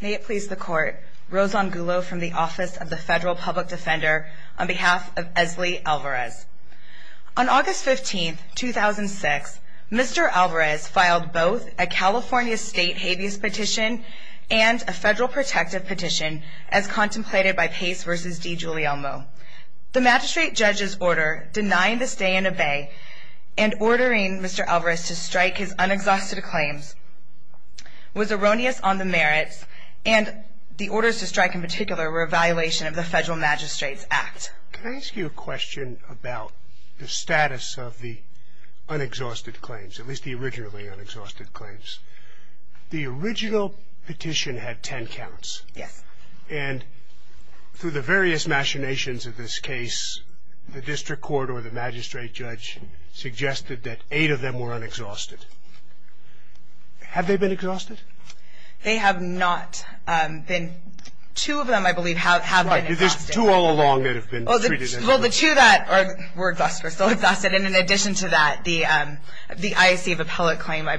May it please the court, Rosan Gulo from the Office of the Federal Public Defender on behalf of Esli Alvarez. On August 15, 2006, Mr. Alvarez filed both a California State Habeas Petition and a Federal Protective Petition as contemplated by Pace v. DiGiulielmo. The magistrate judge's order denying the stay and obey and ordering Mr. Alvarez to strike his unexhausted claims was erroneous on the merits and the orders to strike in particular were a violation of the Federal Magistrate's Act. Can I ask you a question about the status of the unexhausted claims, at least the originally unexhausted claims? The original petition had ten counts. Yes. And through the various machinations of this case, the district court or the magistrate judge suggested that eight of them were unexhausted. Have they been exhausted? They have not been. Two of them, I believe, have been exhausted. There's two all along that have been treated as unexhausted. Well, the two that were exhausted are still exhausted, and in addition to that, the IAC of Appellate Claim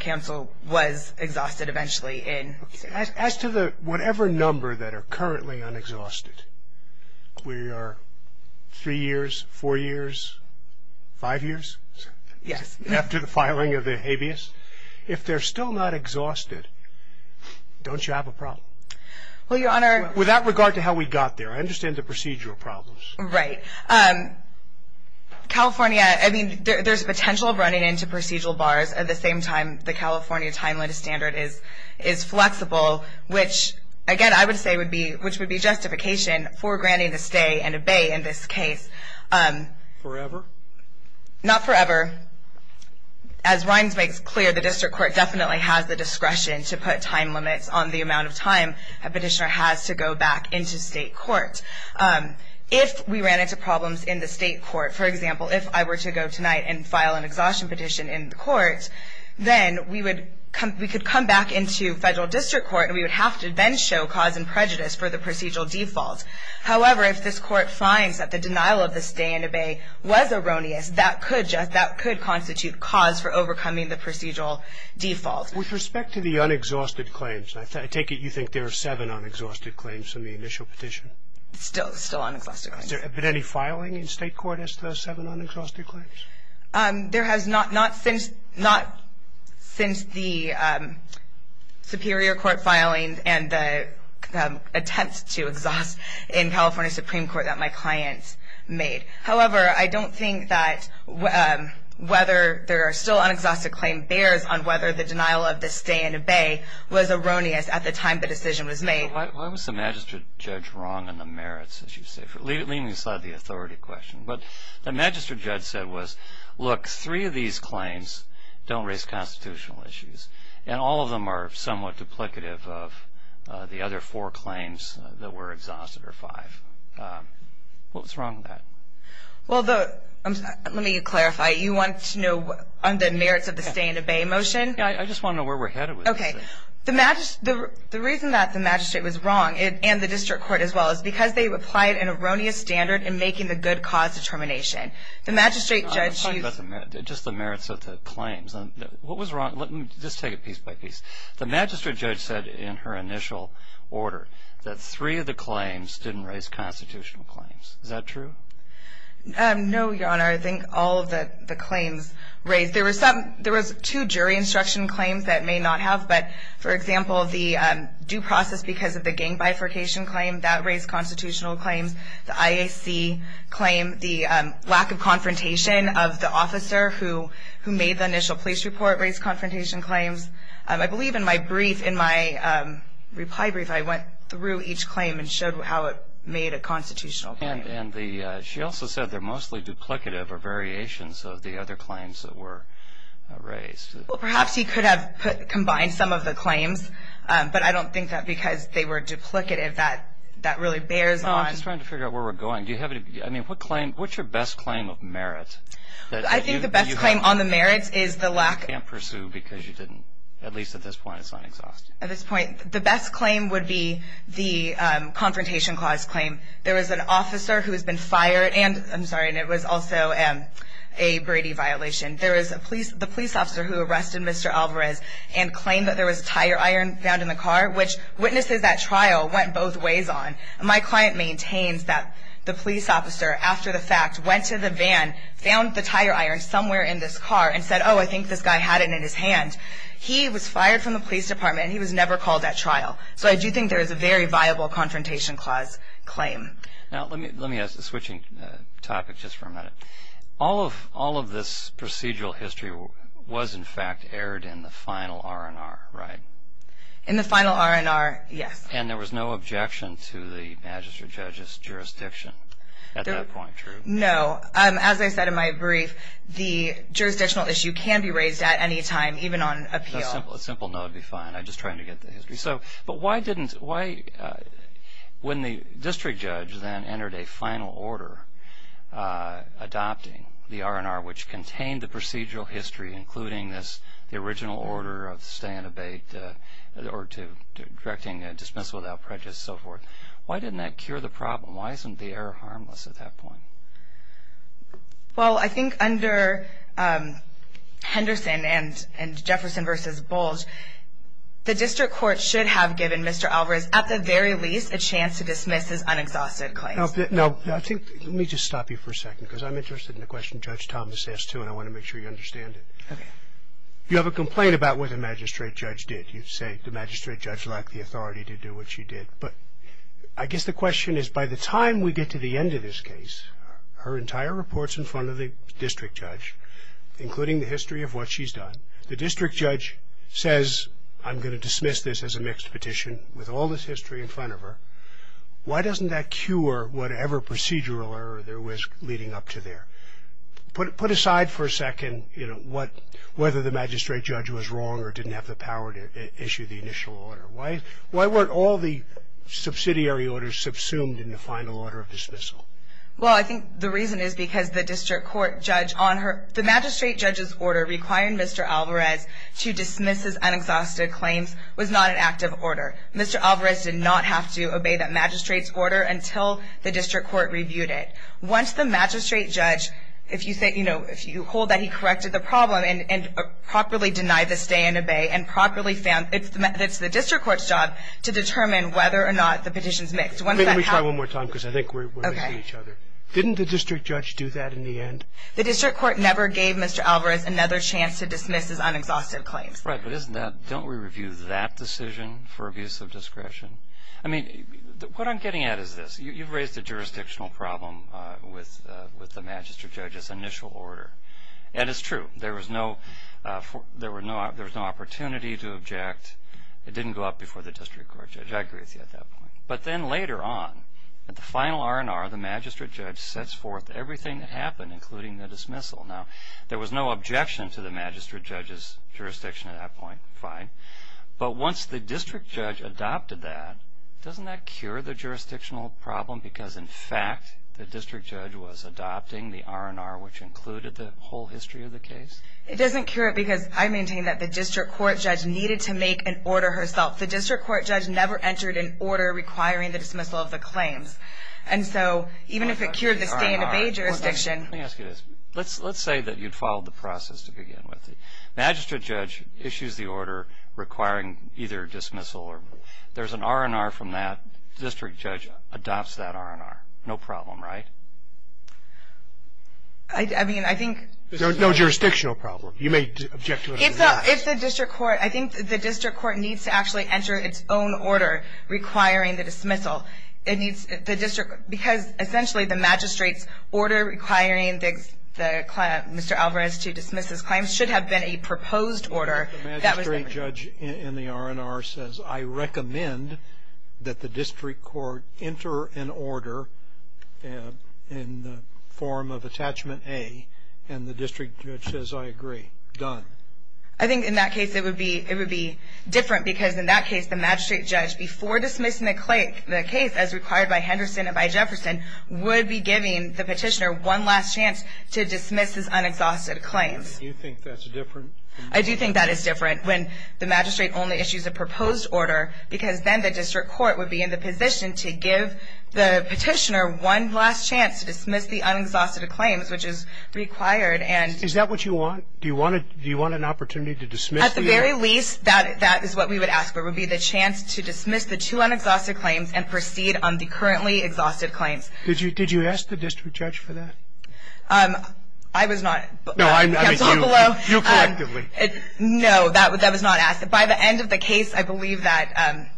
Council was exhausted eventually. As to whatever number that are currently unexhausted, we are three years, four years, five years? Yes. After the filing of the habeas? If they're still not exhausted, don't you have a problem? Well, Your Honor. With that regard to how we got there, I understand the procedural problems. Right. California, I mean, there's a potential of running into procedural bars at the same time the California timeline standard is flexible, which, again, I would say would be justification for granting the stay and abate in this case. Forever? Not forever. As Rinds makes clear, the district court definitely has the discretion to put time limits on the amount of time a petitioner has to go back into state court. If we ran into problems in the state court, for example, if I were to go tonight and file an exhaustion petition in the court, then we could come back into federal district court, and we would have to then show cause and prejudice for the procedural default. However, if this court finds that the denial of the stay and abate was erroneous, that could constitute cause for overcoming the procedural default. With respect to the unexhausted claims, I take it you think there are seven unexhausted claims in the initial petition? Still unexhausted claims. Has there been any filing in state court as to those seven unexhausted claims? There has not since the superior court filing and the attempts to exhaust in California Supreme Court that my client made. However, I don't think that whether there are still unexhausted claim bears on whether the denial of the stay and abate was erroneous at the time the decision was made. Why was the magistrate judge wrong in the merits, as you say? Leaving aside the authority question, what the magistrate judge said was, look, three of these claims don't raise constitutional issues, and all of them are somewhat duplicative of the other four claims that were exhausted or five. What was wrong with that? Well, let me clarify. You want to know on the merits of the stay and abate motion? Yeah, I just want to know where we're headed with this thing. The reason that the magistrate was wrong, and the district court as well, is because they applied an erroneous standard in making the good cause determination. The magistrate judge used... I'm talking about just the merits of the claims. What was wrong? Let me just take it piece by piece. The magistrate judge said in her initial order that three of the claims didn't raise constitutional claims. Is that true? No, Your Honor. I think all of the claims raised. There was two jury instruction claims that may not have. But, for example, the due process because of the gang bifurcation claim, that raised constitutional claims. The IAC claim, the lack of confrontation of the officer who made the initial police report raised confrontation claims. I believe in my brief, in my reply brief, I went through each claim and showed how it made a constitutional claim. She also said they're mostly duplicative or variations of the other claims that were raised. Perhaps he could have combined some of the claims, but I don't think that because they were duplicative, that really bears on... I'm just trying to figure out where we're going. What's your best claim of merit? I think the best claim on the merits is the lack... You can't pursue because you didn't, at least at this point, it's not exhausting. At this point, the best claim would be the confrontation clause claim. There was an officer who has been fired and, I'm sorry, and it was also a Brady violation. There was the police officer who arrested Mr. Alvarez and claimed that there was a tire iron found in the car, which witnesses at trial went both ways on. My client maintains that the police officer, after the fact, went to the van, found the tire iron somewhere in this car, and said, oh, I think this guy had it in his hand. He was fired from the police department and he was never called at trial. I do think there is a very viable confrontation clause claim. Let me switch topics just for a minute. All of this procedural history was, in fact, aired in the final R&R, right? In the final R&R, yes. And there was no objection to the magistrate judge's jurisdiction at that point, true? No. As I said in my brief, the jurisdictional issue can be raised at any time, even on appeal. A simple no would be fine. I'm just trying to get the history. But why didn't, when the district judge then entered a final order adopting the R&R, which contained the procedural history including the original order of stay and abate or directing a dismissal without prejudice and so forth, why didn't that cure the problem? Why isn't the error harmless at that point? Well, I think under Henderson and Jefferson v. Bulge, the district court should have given Mr. Alvarez, at the very least, a chance to dismiss his unexhausted claim. Now, let me just stop you for a second because I'm interested in the question Judge Thomas asked too and I want to make sure you understand it. Okay. You have a complaint about what the magistrate judge did. You say the magistrate judge lacked the authority to do what she did. But I guess the question is, by the time we get to the end of this case, her entire report's in front of the district judge, including the history of what she's done. The district judge says, I'm going to dismiss this as a mixed petition with all this history in front of her. Why doesn't that cure whatever procedural error there was leading up to there? Put aside for a second whether the magistrate judge was wrong or didn't have the power to issue the initial order. Why weren't all the subsidiary orders subsumed in the final order of dismissal? Well, I think the reason is because the district court judge on her – the magistrate judge's order requiring Mr. Alvarez to dismiss his unexhausted claims was not an active order. Mr. Alvarez did not have to obey that magistrate's order until the district court reviewed it. Once the magistrate judge, if you hold that he corrected the problem and properly denied the stay and obey and properly found – it's the district court's job to determine whether or not the petition's mixed. Let me try one more time because I think we're missing each other. Didn't the district judge do that in the end? The district court never gave Mr. Alvarez another chance to dismiss his unexhausted claims. Right, but isn't that – don't we review that decision for abuse of discretion? I mean, what I'm getting at is this. You've raised a jurisdictional problem with the magistrate judge's initial order. And it's true. There was no opportunity to object. It didn't go up before the district court judge. I agree with you at that point. But then later on, at the final R&R, the magistrate judge sets forth everything that happened, including the dismissal. Now, there was no objection to the magistrate judge's jurisdiction at that point. Fine. But once the district judge adopted that, doesn't that cure the jurisdictional problem because, in fact, the district judge was adopting the R&R which included the whole history of the case? It doesn't cure it because I maintain that the district court judge needed to make an order herself. The district court judge never entered an order requiring the dismissal of the claims. And so even if it cured the stay-in-the-bay jurisdiction – Let me ask you this. Let's say that you'd followed the process to begin with. The magistrate judge issues the order requiring either dismissal or – There's an R&R from that. The district judge adopts that R&R. No problem, right? I mean, I think – There's no jurisdictional problem. You may object to it or not. If the district court – I think the district court needs to actually enter its own order requiring the dismissal. It needs – the district – because, essentially, the magistrate's order requiring Mr. Alvarez to dismiss his claims should have been a proposed order. The magistrate judge in the R&R says, I recommend that the district court enter an order in the form of attachment A. And the district judge says, I agree. Done. I think, in that case, it would be different because, in that case, the magistrate judge, before dismissing the case as required by Henderson and by Jefferson, would be giving the petitioner one last chance to dismiss his unexhausted claims. Do you think that's different? I do think that is different when the magistrate only issues a proposed order because then the district court would be in the position to give the petitioner one last chance to dismiss the unexhausted claims, which is required and – Is that what you want? Do you want an opportunity to dismiss the – At the very least, that is what we would ask for, would be the chance to dismiss the two unexhausted claims and proceed on the currently exhausted claims. Did you ask the district judge for that? I was not. No, I mean, you collectively. No, that was not asked. By the end of the case, I believe that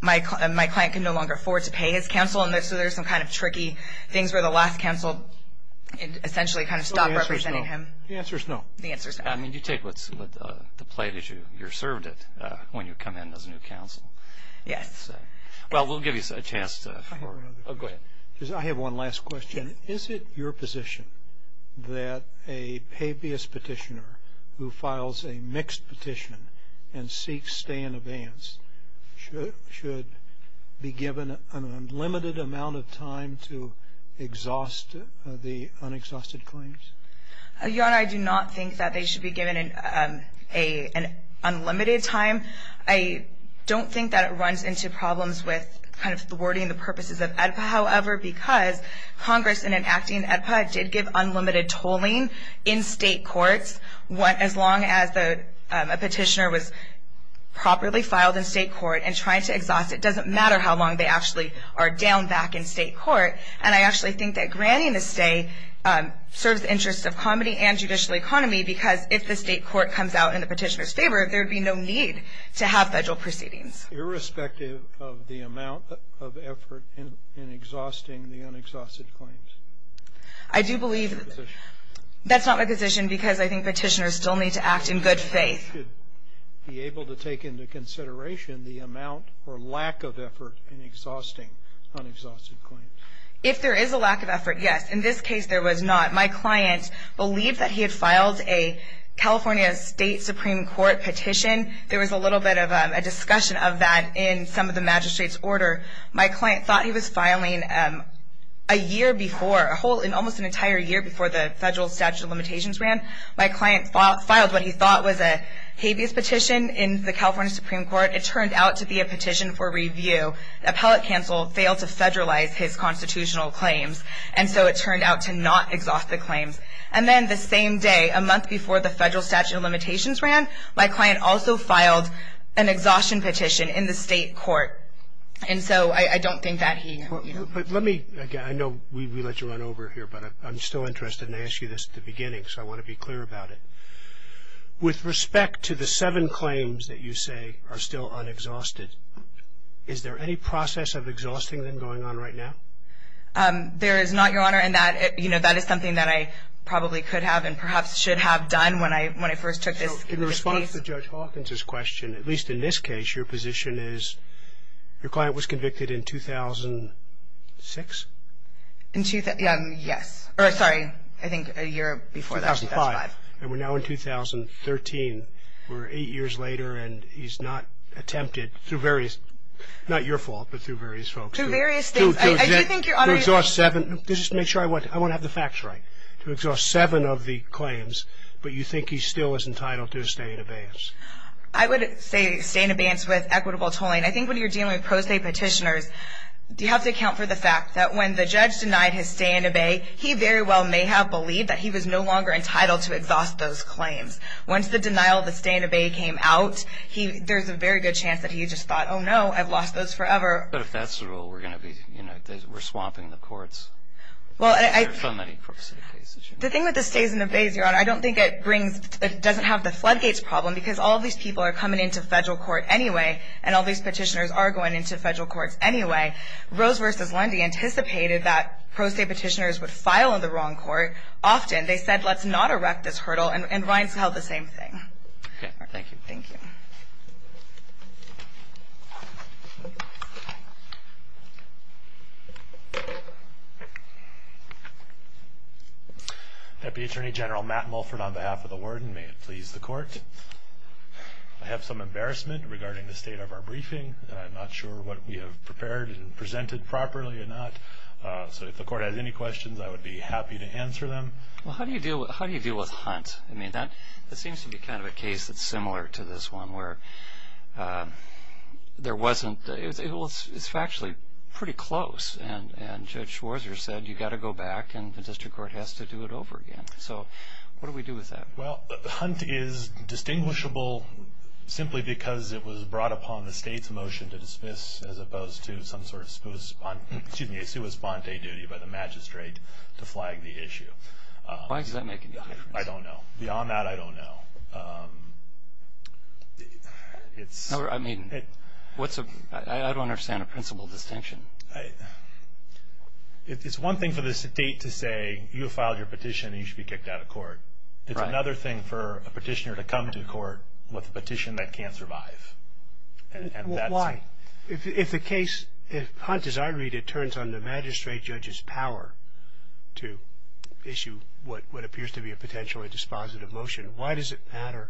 my client can no longer afford to pay his counsel, and so there's some kind of tricky things where the last counsel essentially kind of stopped representing him. The answer is no. The answer is no. The answer is no. I mean, you take what's at play. You're served it when you come in as new counsel. Yes. Well, we'll give you a chance to – I have one last question. Is it your position that a habeas petitioner who files a mixed petition and seeks stay in advance should be given an unlimited amount of time to exhaust the unexhausted claims? Your Honor, I do not think that they should be given an unlimited time. I don't think that it runs into problems with kind of thwarting the purposes of AEDPA, however, because Congress, in enacting AEDPA, did give unlimited tolling in state courts. As long as a petitioner was properly filed in state court and tried to exhaust it, it doesn't matter how long they actually are down back in state court. And I actually think that granting a stay serves the interests of comedy and judicial economy because if the state court comes out in the petitioner's favor, there would be no need to have federal proceedings. Irrespective of the amount of effort in exhausting the unexhausted claims? I do believe – Is that your position? That's not my position because I think petitioners still need to act in good faith. Should they be able to take into consideration the amount or lack of effort in exhausting unexhausted claims? If there is a lack of effort, yes. In this case, there was not. My client believed that he had filed a California State Supreme Court petition. There was a little bit of a discussion of that in some of the magistrate's order. My client thought he was filing a year before, almost an entire year before the federal statute of limitations ran. My client filed what he thought was a habeas petition in the California Supreme Court. It turned out to be a petition for review. Appellate counsel failed to federalize his constitutional claims, and so it turned out to not exhaust the claims. And then the same day, a month before the federal statute of limitations ran, my client also filed an exhaustion petition in the state court. And so I don't think that he – Let me – I know we let you run over here, but I'm still interested in asking you this at the beginning, so I want to be clear about it. With respect to the seven claims that you say are still unexhausted, is there any process of exhausting them going on right now? There is not, Your Honor, and that is something that I probably could have and perhaps should have done when I first took this case. So in response to Judge Hawkins' question, at least in this case, your position is your client was convicted in 2006? In – yes. Or, sorry, I think a year before that, 2005. 2005. And we're now in 2013. We're eight years later, and he's not attempted through various – not your fault, but through various folks. Through various things. I do think your Honor – To exhaust seven – just make sure I want to have the facts right. To exhaust seven of the claims, but you think he still is entitled to a stay in abeyance? I would say stay in abeyance with equitable tolling. I think when you're dealing with pro se petitioners, you have to account for the fact that when the judge denied his stay in abey, he very well may have believed that he was no longer entitled to exhaust those claims. Once the denial of the stay in abey came out, there's a very good chance that he just thought, oh no, I've lost those forever. But if that's the rule, we're going to be – you know, we're swapping the courts. Well, I – There are so many pro se cases. The thing with the stay in abeys, your Honor, I don't think it brings – it doesn't have the floodgates problem, because all these people are coming into federal court anyway, and all these petitioners are going into federal courts anyway. Rose v. Lundy anticipated that pro se petitioners would file in the wrong court often. They said, let's not erect this hurdle, and Reince held the same thing. Okay. Thank you. Thank you. Thank you. Deputy Attorney General Matt Mulford on behalf of the warden, may it please the court. I have some embarrassment regarding the state of our briefing, and I'm not sure what we have prepared and presented properly or not. So if the court has any questions, I would be happy to answer them. Well, how do you deal with Hunt? I mean, that seems to be kind of a case that's similar to this one, where there wasn't – it's actually pretty close, and Judge Schwarzer said you've got to go back, and the district court has to do it over again. So what do we do with that? Well, Hunt is distinguishable simply because it was brought upon the state's motion to dismiss, as opposed to some sort of – excuse me, a sua sponte duty by the magistrate to flag the issue. Why does that make any difference? I don't know. Beyond that, I don't know. I mean, what's a – I don't understand a principal distinction. It's one thing for the state to say you filed your petition and you should be kicked out of court. It's another thing for a petitioner to come to court with a petition that can't survive. Why? If the case – if Hunt, as I read it, turns on the magistrate judge's power to issue what appears to be a potentially dispositive motion, why does it matter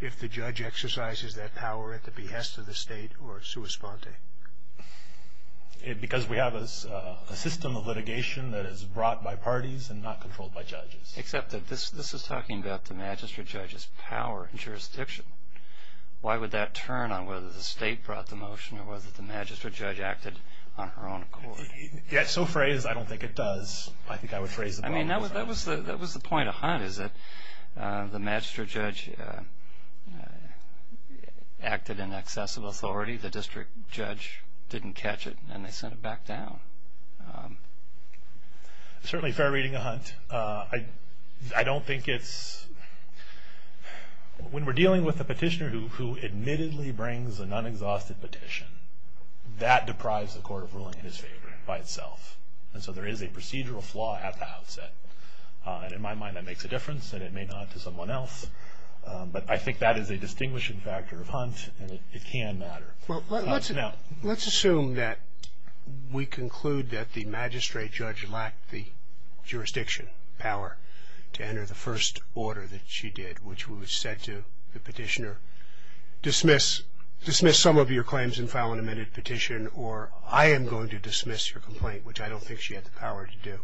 if the judge exercises that power at the behest of the state or sua sponte? Because we have a system of litigation that is brought by parties and not controlled by judges. Except that this is talking about the magistrate judge's power in jurisdiction. Why would that turn on whether the state brought the motion or whether the magistrate judge acted on her own accord? It's so phrased, I don't think it does. I think I would phrase it – I mean, that was the point of Hunt, is that the magistrate judge acted in excessive authority. The district judge didn't catch it, and they sent it back down. Certainly fair reading of Hunt. I don't think it's – when we're dealing with a petitioner who admittedly brings an unexhausted petition, that deprives the court of ruling in his favor by itself. And so there is a procedural flaw at the outset. And in my mind, that makes a difference, and it may not to someone else. But I think that is a distinguishing factor of Hunt, and it can matter. Well, let's assume that we conclude that the magistrate judge lacked the jurisdiction, power to enter the first order that she did, which was said to the petitioner, dismiss some of your claims and file an amended petition, or I am going to dismiss your complaint, which I don't think she had the power to do.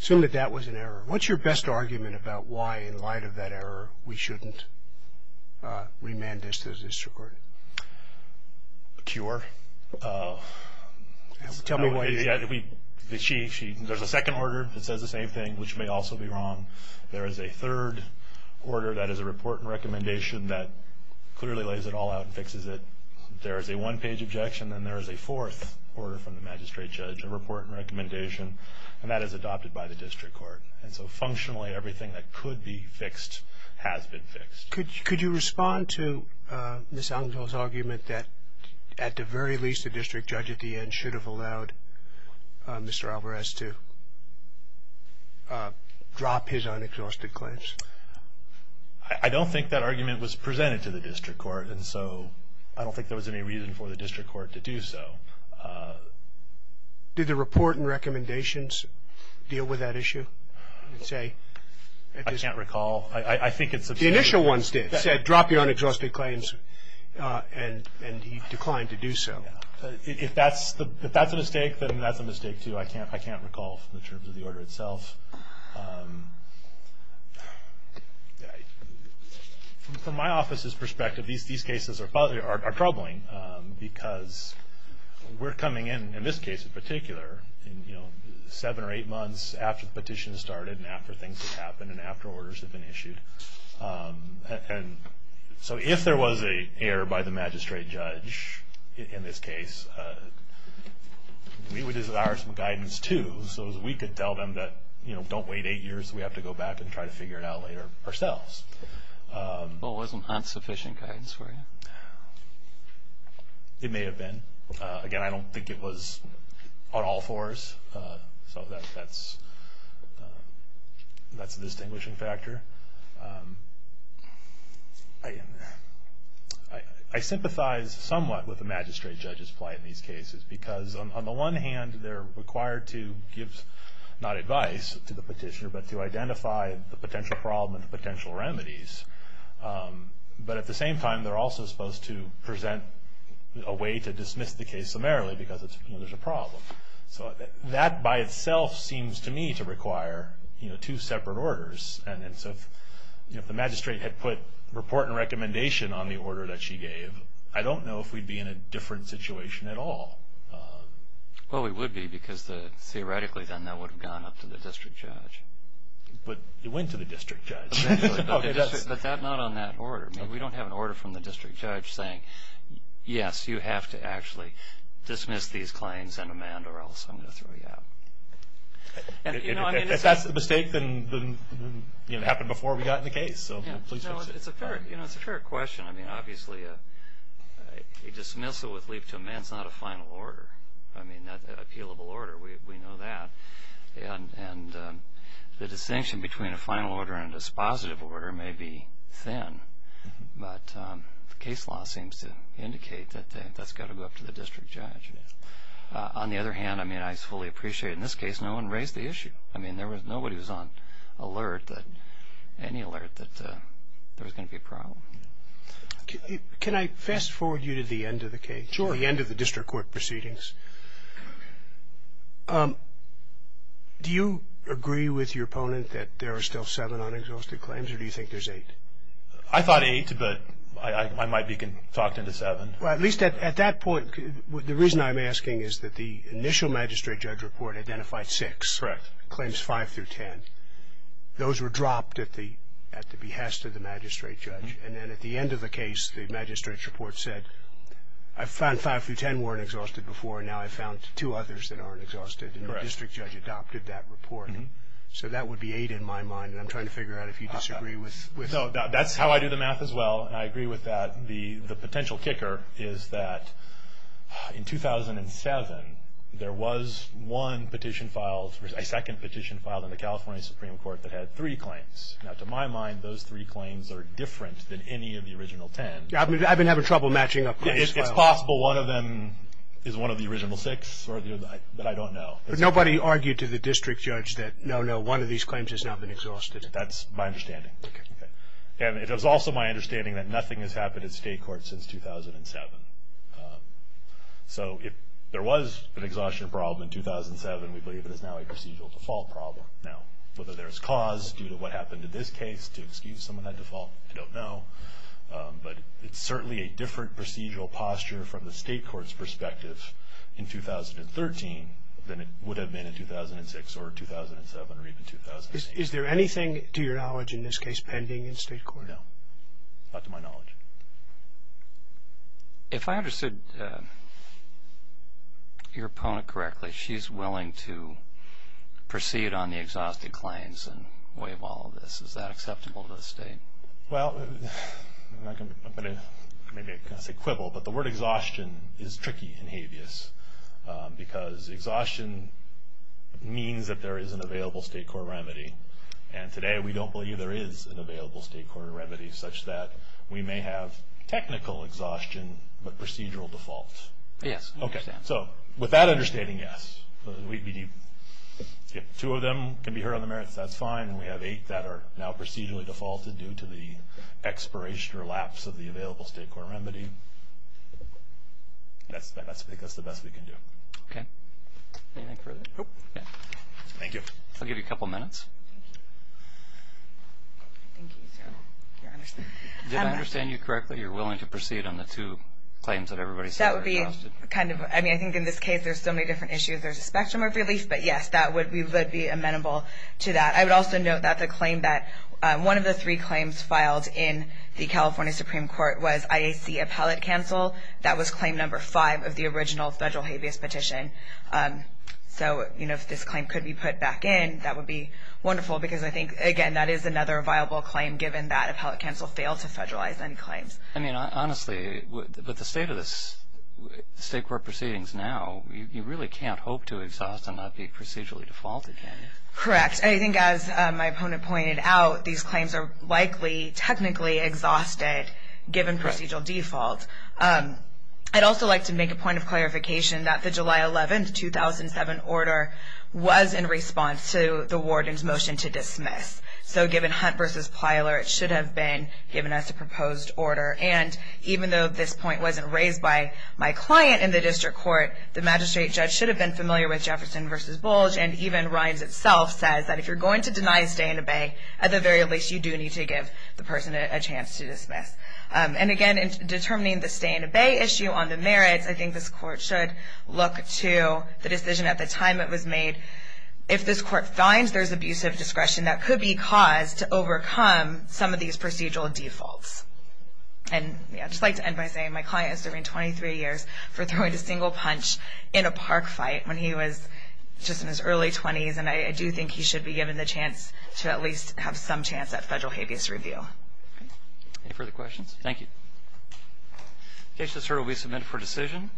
Assume that that was an error. What's your best argument about why, in light of that error, we shouldn't remand this to the district court? Cure. Tell me why. There's a second order that says the same thing, which may also be wrong. There is a third order that is a report and recommendation that clearly lays it all out and fixes it. There is a one-page objection. Then there is a fourth order from the magistrate judge, a report and recommendation, and that is adopted by the district court. And so, functionally, everything that could be fixed has been fixed. Could you respond to Ms. Angel's argument that, at the very least, the district judge at the end should have allowed Mr. Alvarez to drop his unexhausted claims? I don't think that argument was presented to the district court, and so I don't think there was any reason for the district court to do so. Did the report and recommendations deal with that issue? I can't recall. The initial ones did. It said drop your unexhausted claims, and he declined to do so. If that's a mistake, then that's a mistake, too. I can't recall from the terms of the order itself. From my office's perspective, these cases are troubling because we're coming in, in this case in particular, seven or eight months after the petition started and after things had happened and after orders had been issued. So if there was an error by the magistrate judge in this case, we would desire some guidance, too, so as we could tell them that, you know, don't wait eight years, we have to go back and try to figure it out later ourselves. Well, wasn't that sufficient guidance for you? It may have been. Again, I don't think it was on all fours, so that's a distinguishing factor. I sympathize somewhat with the magistrate judge's plight in these cases because on the one hand, they're required to give not advice to the petitioner, but to identify the potential problem and the potential remedies. But at the same time, they're also supposed to present a way to dismiss the case summarily because there's a problem. So that by itself seems to me to require two separate orders. And so if the magistrate had put report and recommendation on the order that she gave, I don't know if we'd be in a different situation at all. Well, we would be because theoretically then that would have gone up to the district judge. But it went to the district judge. But not on that order. We don't have an order from the district judge saying, yes, you have to actually dismiss these claims and amend or else I'm going to throw you out. If that's the mistake, then it happened before we got in the case. It's a fair question. I mean, obviously a dismissal with leave to amend is not a final order. I mean, not an appealable order. We know that. And the distinction between a final order and a dispositive order may be thin, but the case law seems to indicate that that's got to go up to the district judge. On the other hand, I mean, I fully appreciate in this case no one raised the issue. I mean, nobody was on alert, any alert that there was going to be a problem. Can I fast forward you to the end of the case? Sure. The end of the district court proceedings. Do you agree with your opponent that there are still seven unexhausted claims, or do you think there's eight? I thought eight, but I might be talking to seven. Well, at least at that point, the reason I'm asking is that the initial magistrate judge report identified six. Correct. Claims five through ten. Those were dropped at the behest of the magistrate judge. And then at the end of the case, the magistrate's report said, I found five through ten weren't exhausted before, and now I found two others that aren't exhausted, and the district judge adopted that report. So that would be eight in my mind, and I'm trying to figure out if you disagree with that. No, that's how I do the math as well, and I agree with that. The potential kicker is that in 2007, there was one petition filed, a second petition filed in the California Supreme Court that had three claims. Now, to my mind, those three claims are different than any of the original ten. I've been having trouble matching up the case files. It's possible one of them is one of the original six, but I don't know. But nobody argued to the district judge that, no, no, one of these claims has not been exhausted. That's my understanding. And it is also my understanding that nothing has happened at state court since 2007. So if there was an exhaustion problem in 2007, we believe it is now a procedural default problem. Now, whether there is cause due to what happened in this case to excuse some of that default, I don't know. But it's certainly a different procedural posture from the state court's perspective in 2013 than it would have been in 2006 or 2007 or even 2006. Is there anything to your knowledge in this case pending in state court? No, not to my knowledge. If I understood your opponent correctly, she's willing to proceed on the exhausted claims and waive all of this. Is that acceptable to the state? Well, I'm going to maybe say quibble, but the word exhaustion is tricky in habeas because exhaustion means that there is an available state court remedy. And today we don't believe there is an available state court remedy such that we may have technical exhaustion but procedural default. Yes, I understand. So with that understanding, yes. If two of them can be heard on the merits, that's fine. We have eight that are now procedurally defaulted due to the expiration or lapse of the available state court remedy. That's the best we can do. Okay. Anything further? Nope. Thank you. I'll give you a couple minutes. Did I understand you correctly? You're willing to proceed on the two claims that everybody said were exhausted? I mean, I think in this case there's so many different issues. There's a spectrum of relief, but, yes, we would be amenable to that. I would also note that the claim that one of the three claims filed in the California Supreme Court was IAC appellate counsel. That was claim number five of the original federal habeas petition. So, you know, if this claim could be put back in, that would be wonderful, because I think, again, that is another viable claim given that appellate counsel failed to federalize any claims. I mean, honestly, with the state of this state court proceedings now, you really can't hope to exhaust and not be procedurally defaulted, can you? Correct. I think as my opponent pointed out, these claims are likely technically exhausted given procedural default. I'd also like to make a point of clarification that the July 11, 2007, order was in response to the warden's motion to dismiss. So given Hunt v. Plyler, it should have been given as a proposed order. And even though this point wasn't raised by my client in the district court, the magistrate judge should have been familiar with Jefferson v. Bulge, and even Rimes itself says that if you're going to deny stay and obey, at the very least you do need to give the person a chance to dismiss. And again, in determining the stay and obey issue on the merits, I think this court should look to the decision at the time it was made. If this court finds there's abusive discretion, that could be cause to overcome some of these procedural defaults. And I'd just like to end by saying my client is serving 23 years for throwing a single punch in a park fight when he was just in his early 20s, and I do think he should be given the chance to at least have some chance at federal habeas review. Any further questions? Thank you. The case is currently submitted for decision.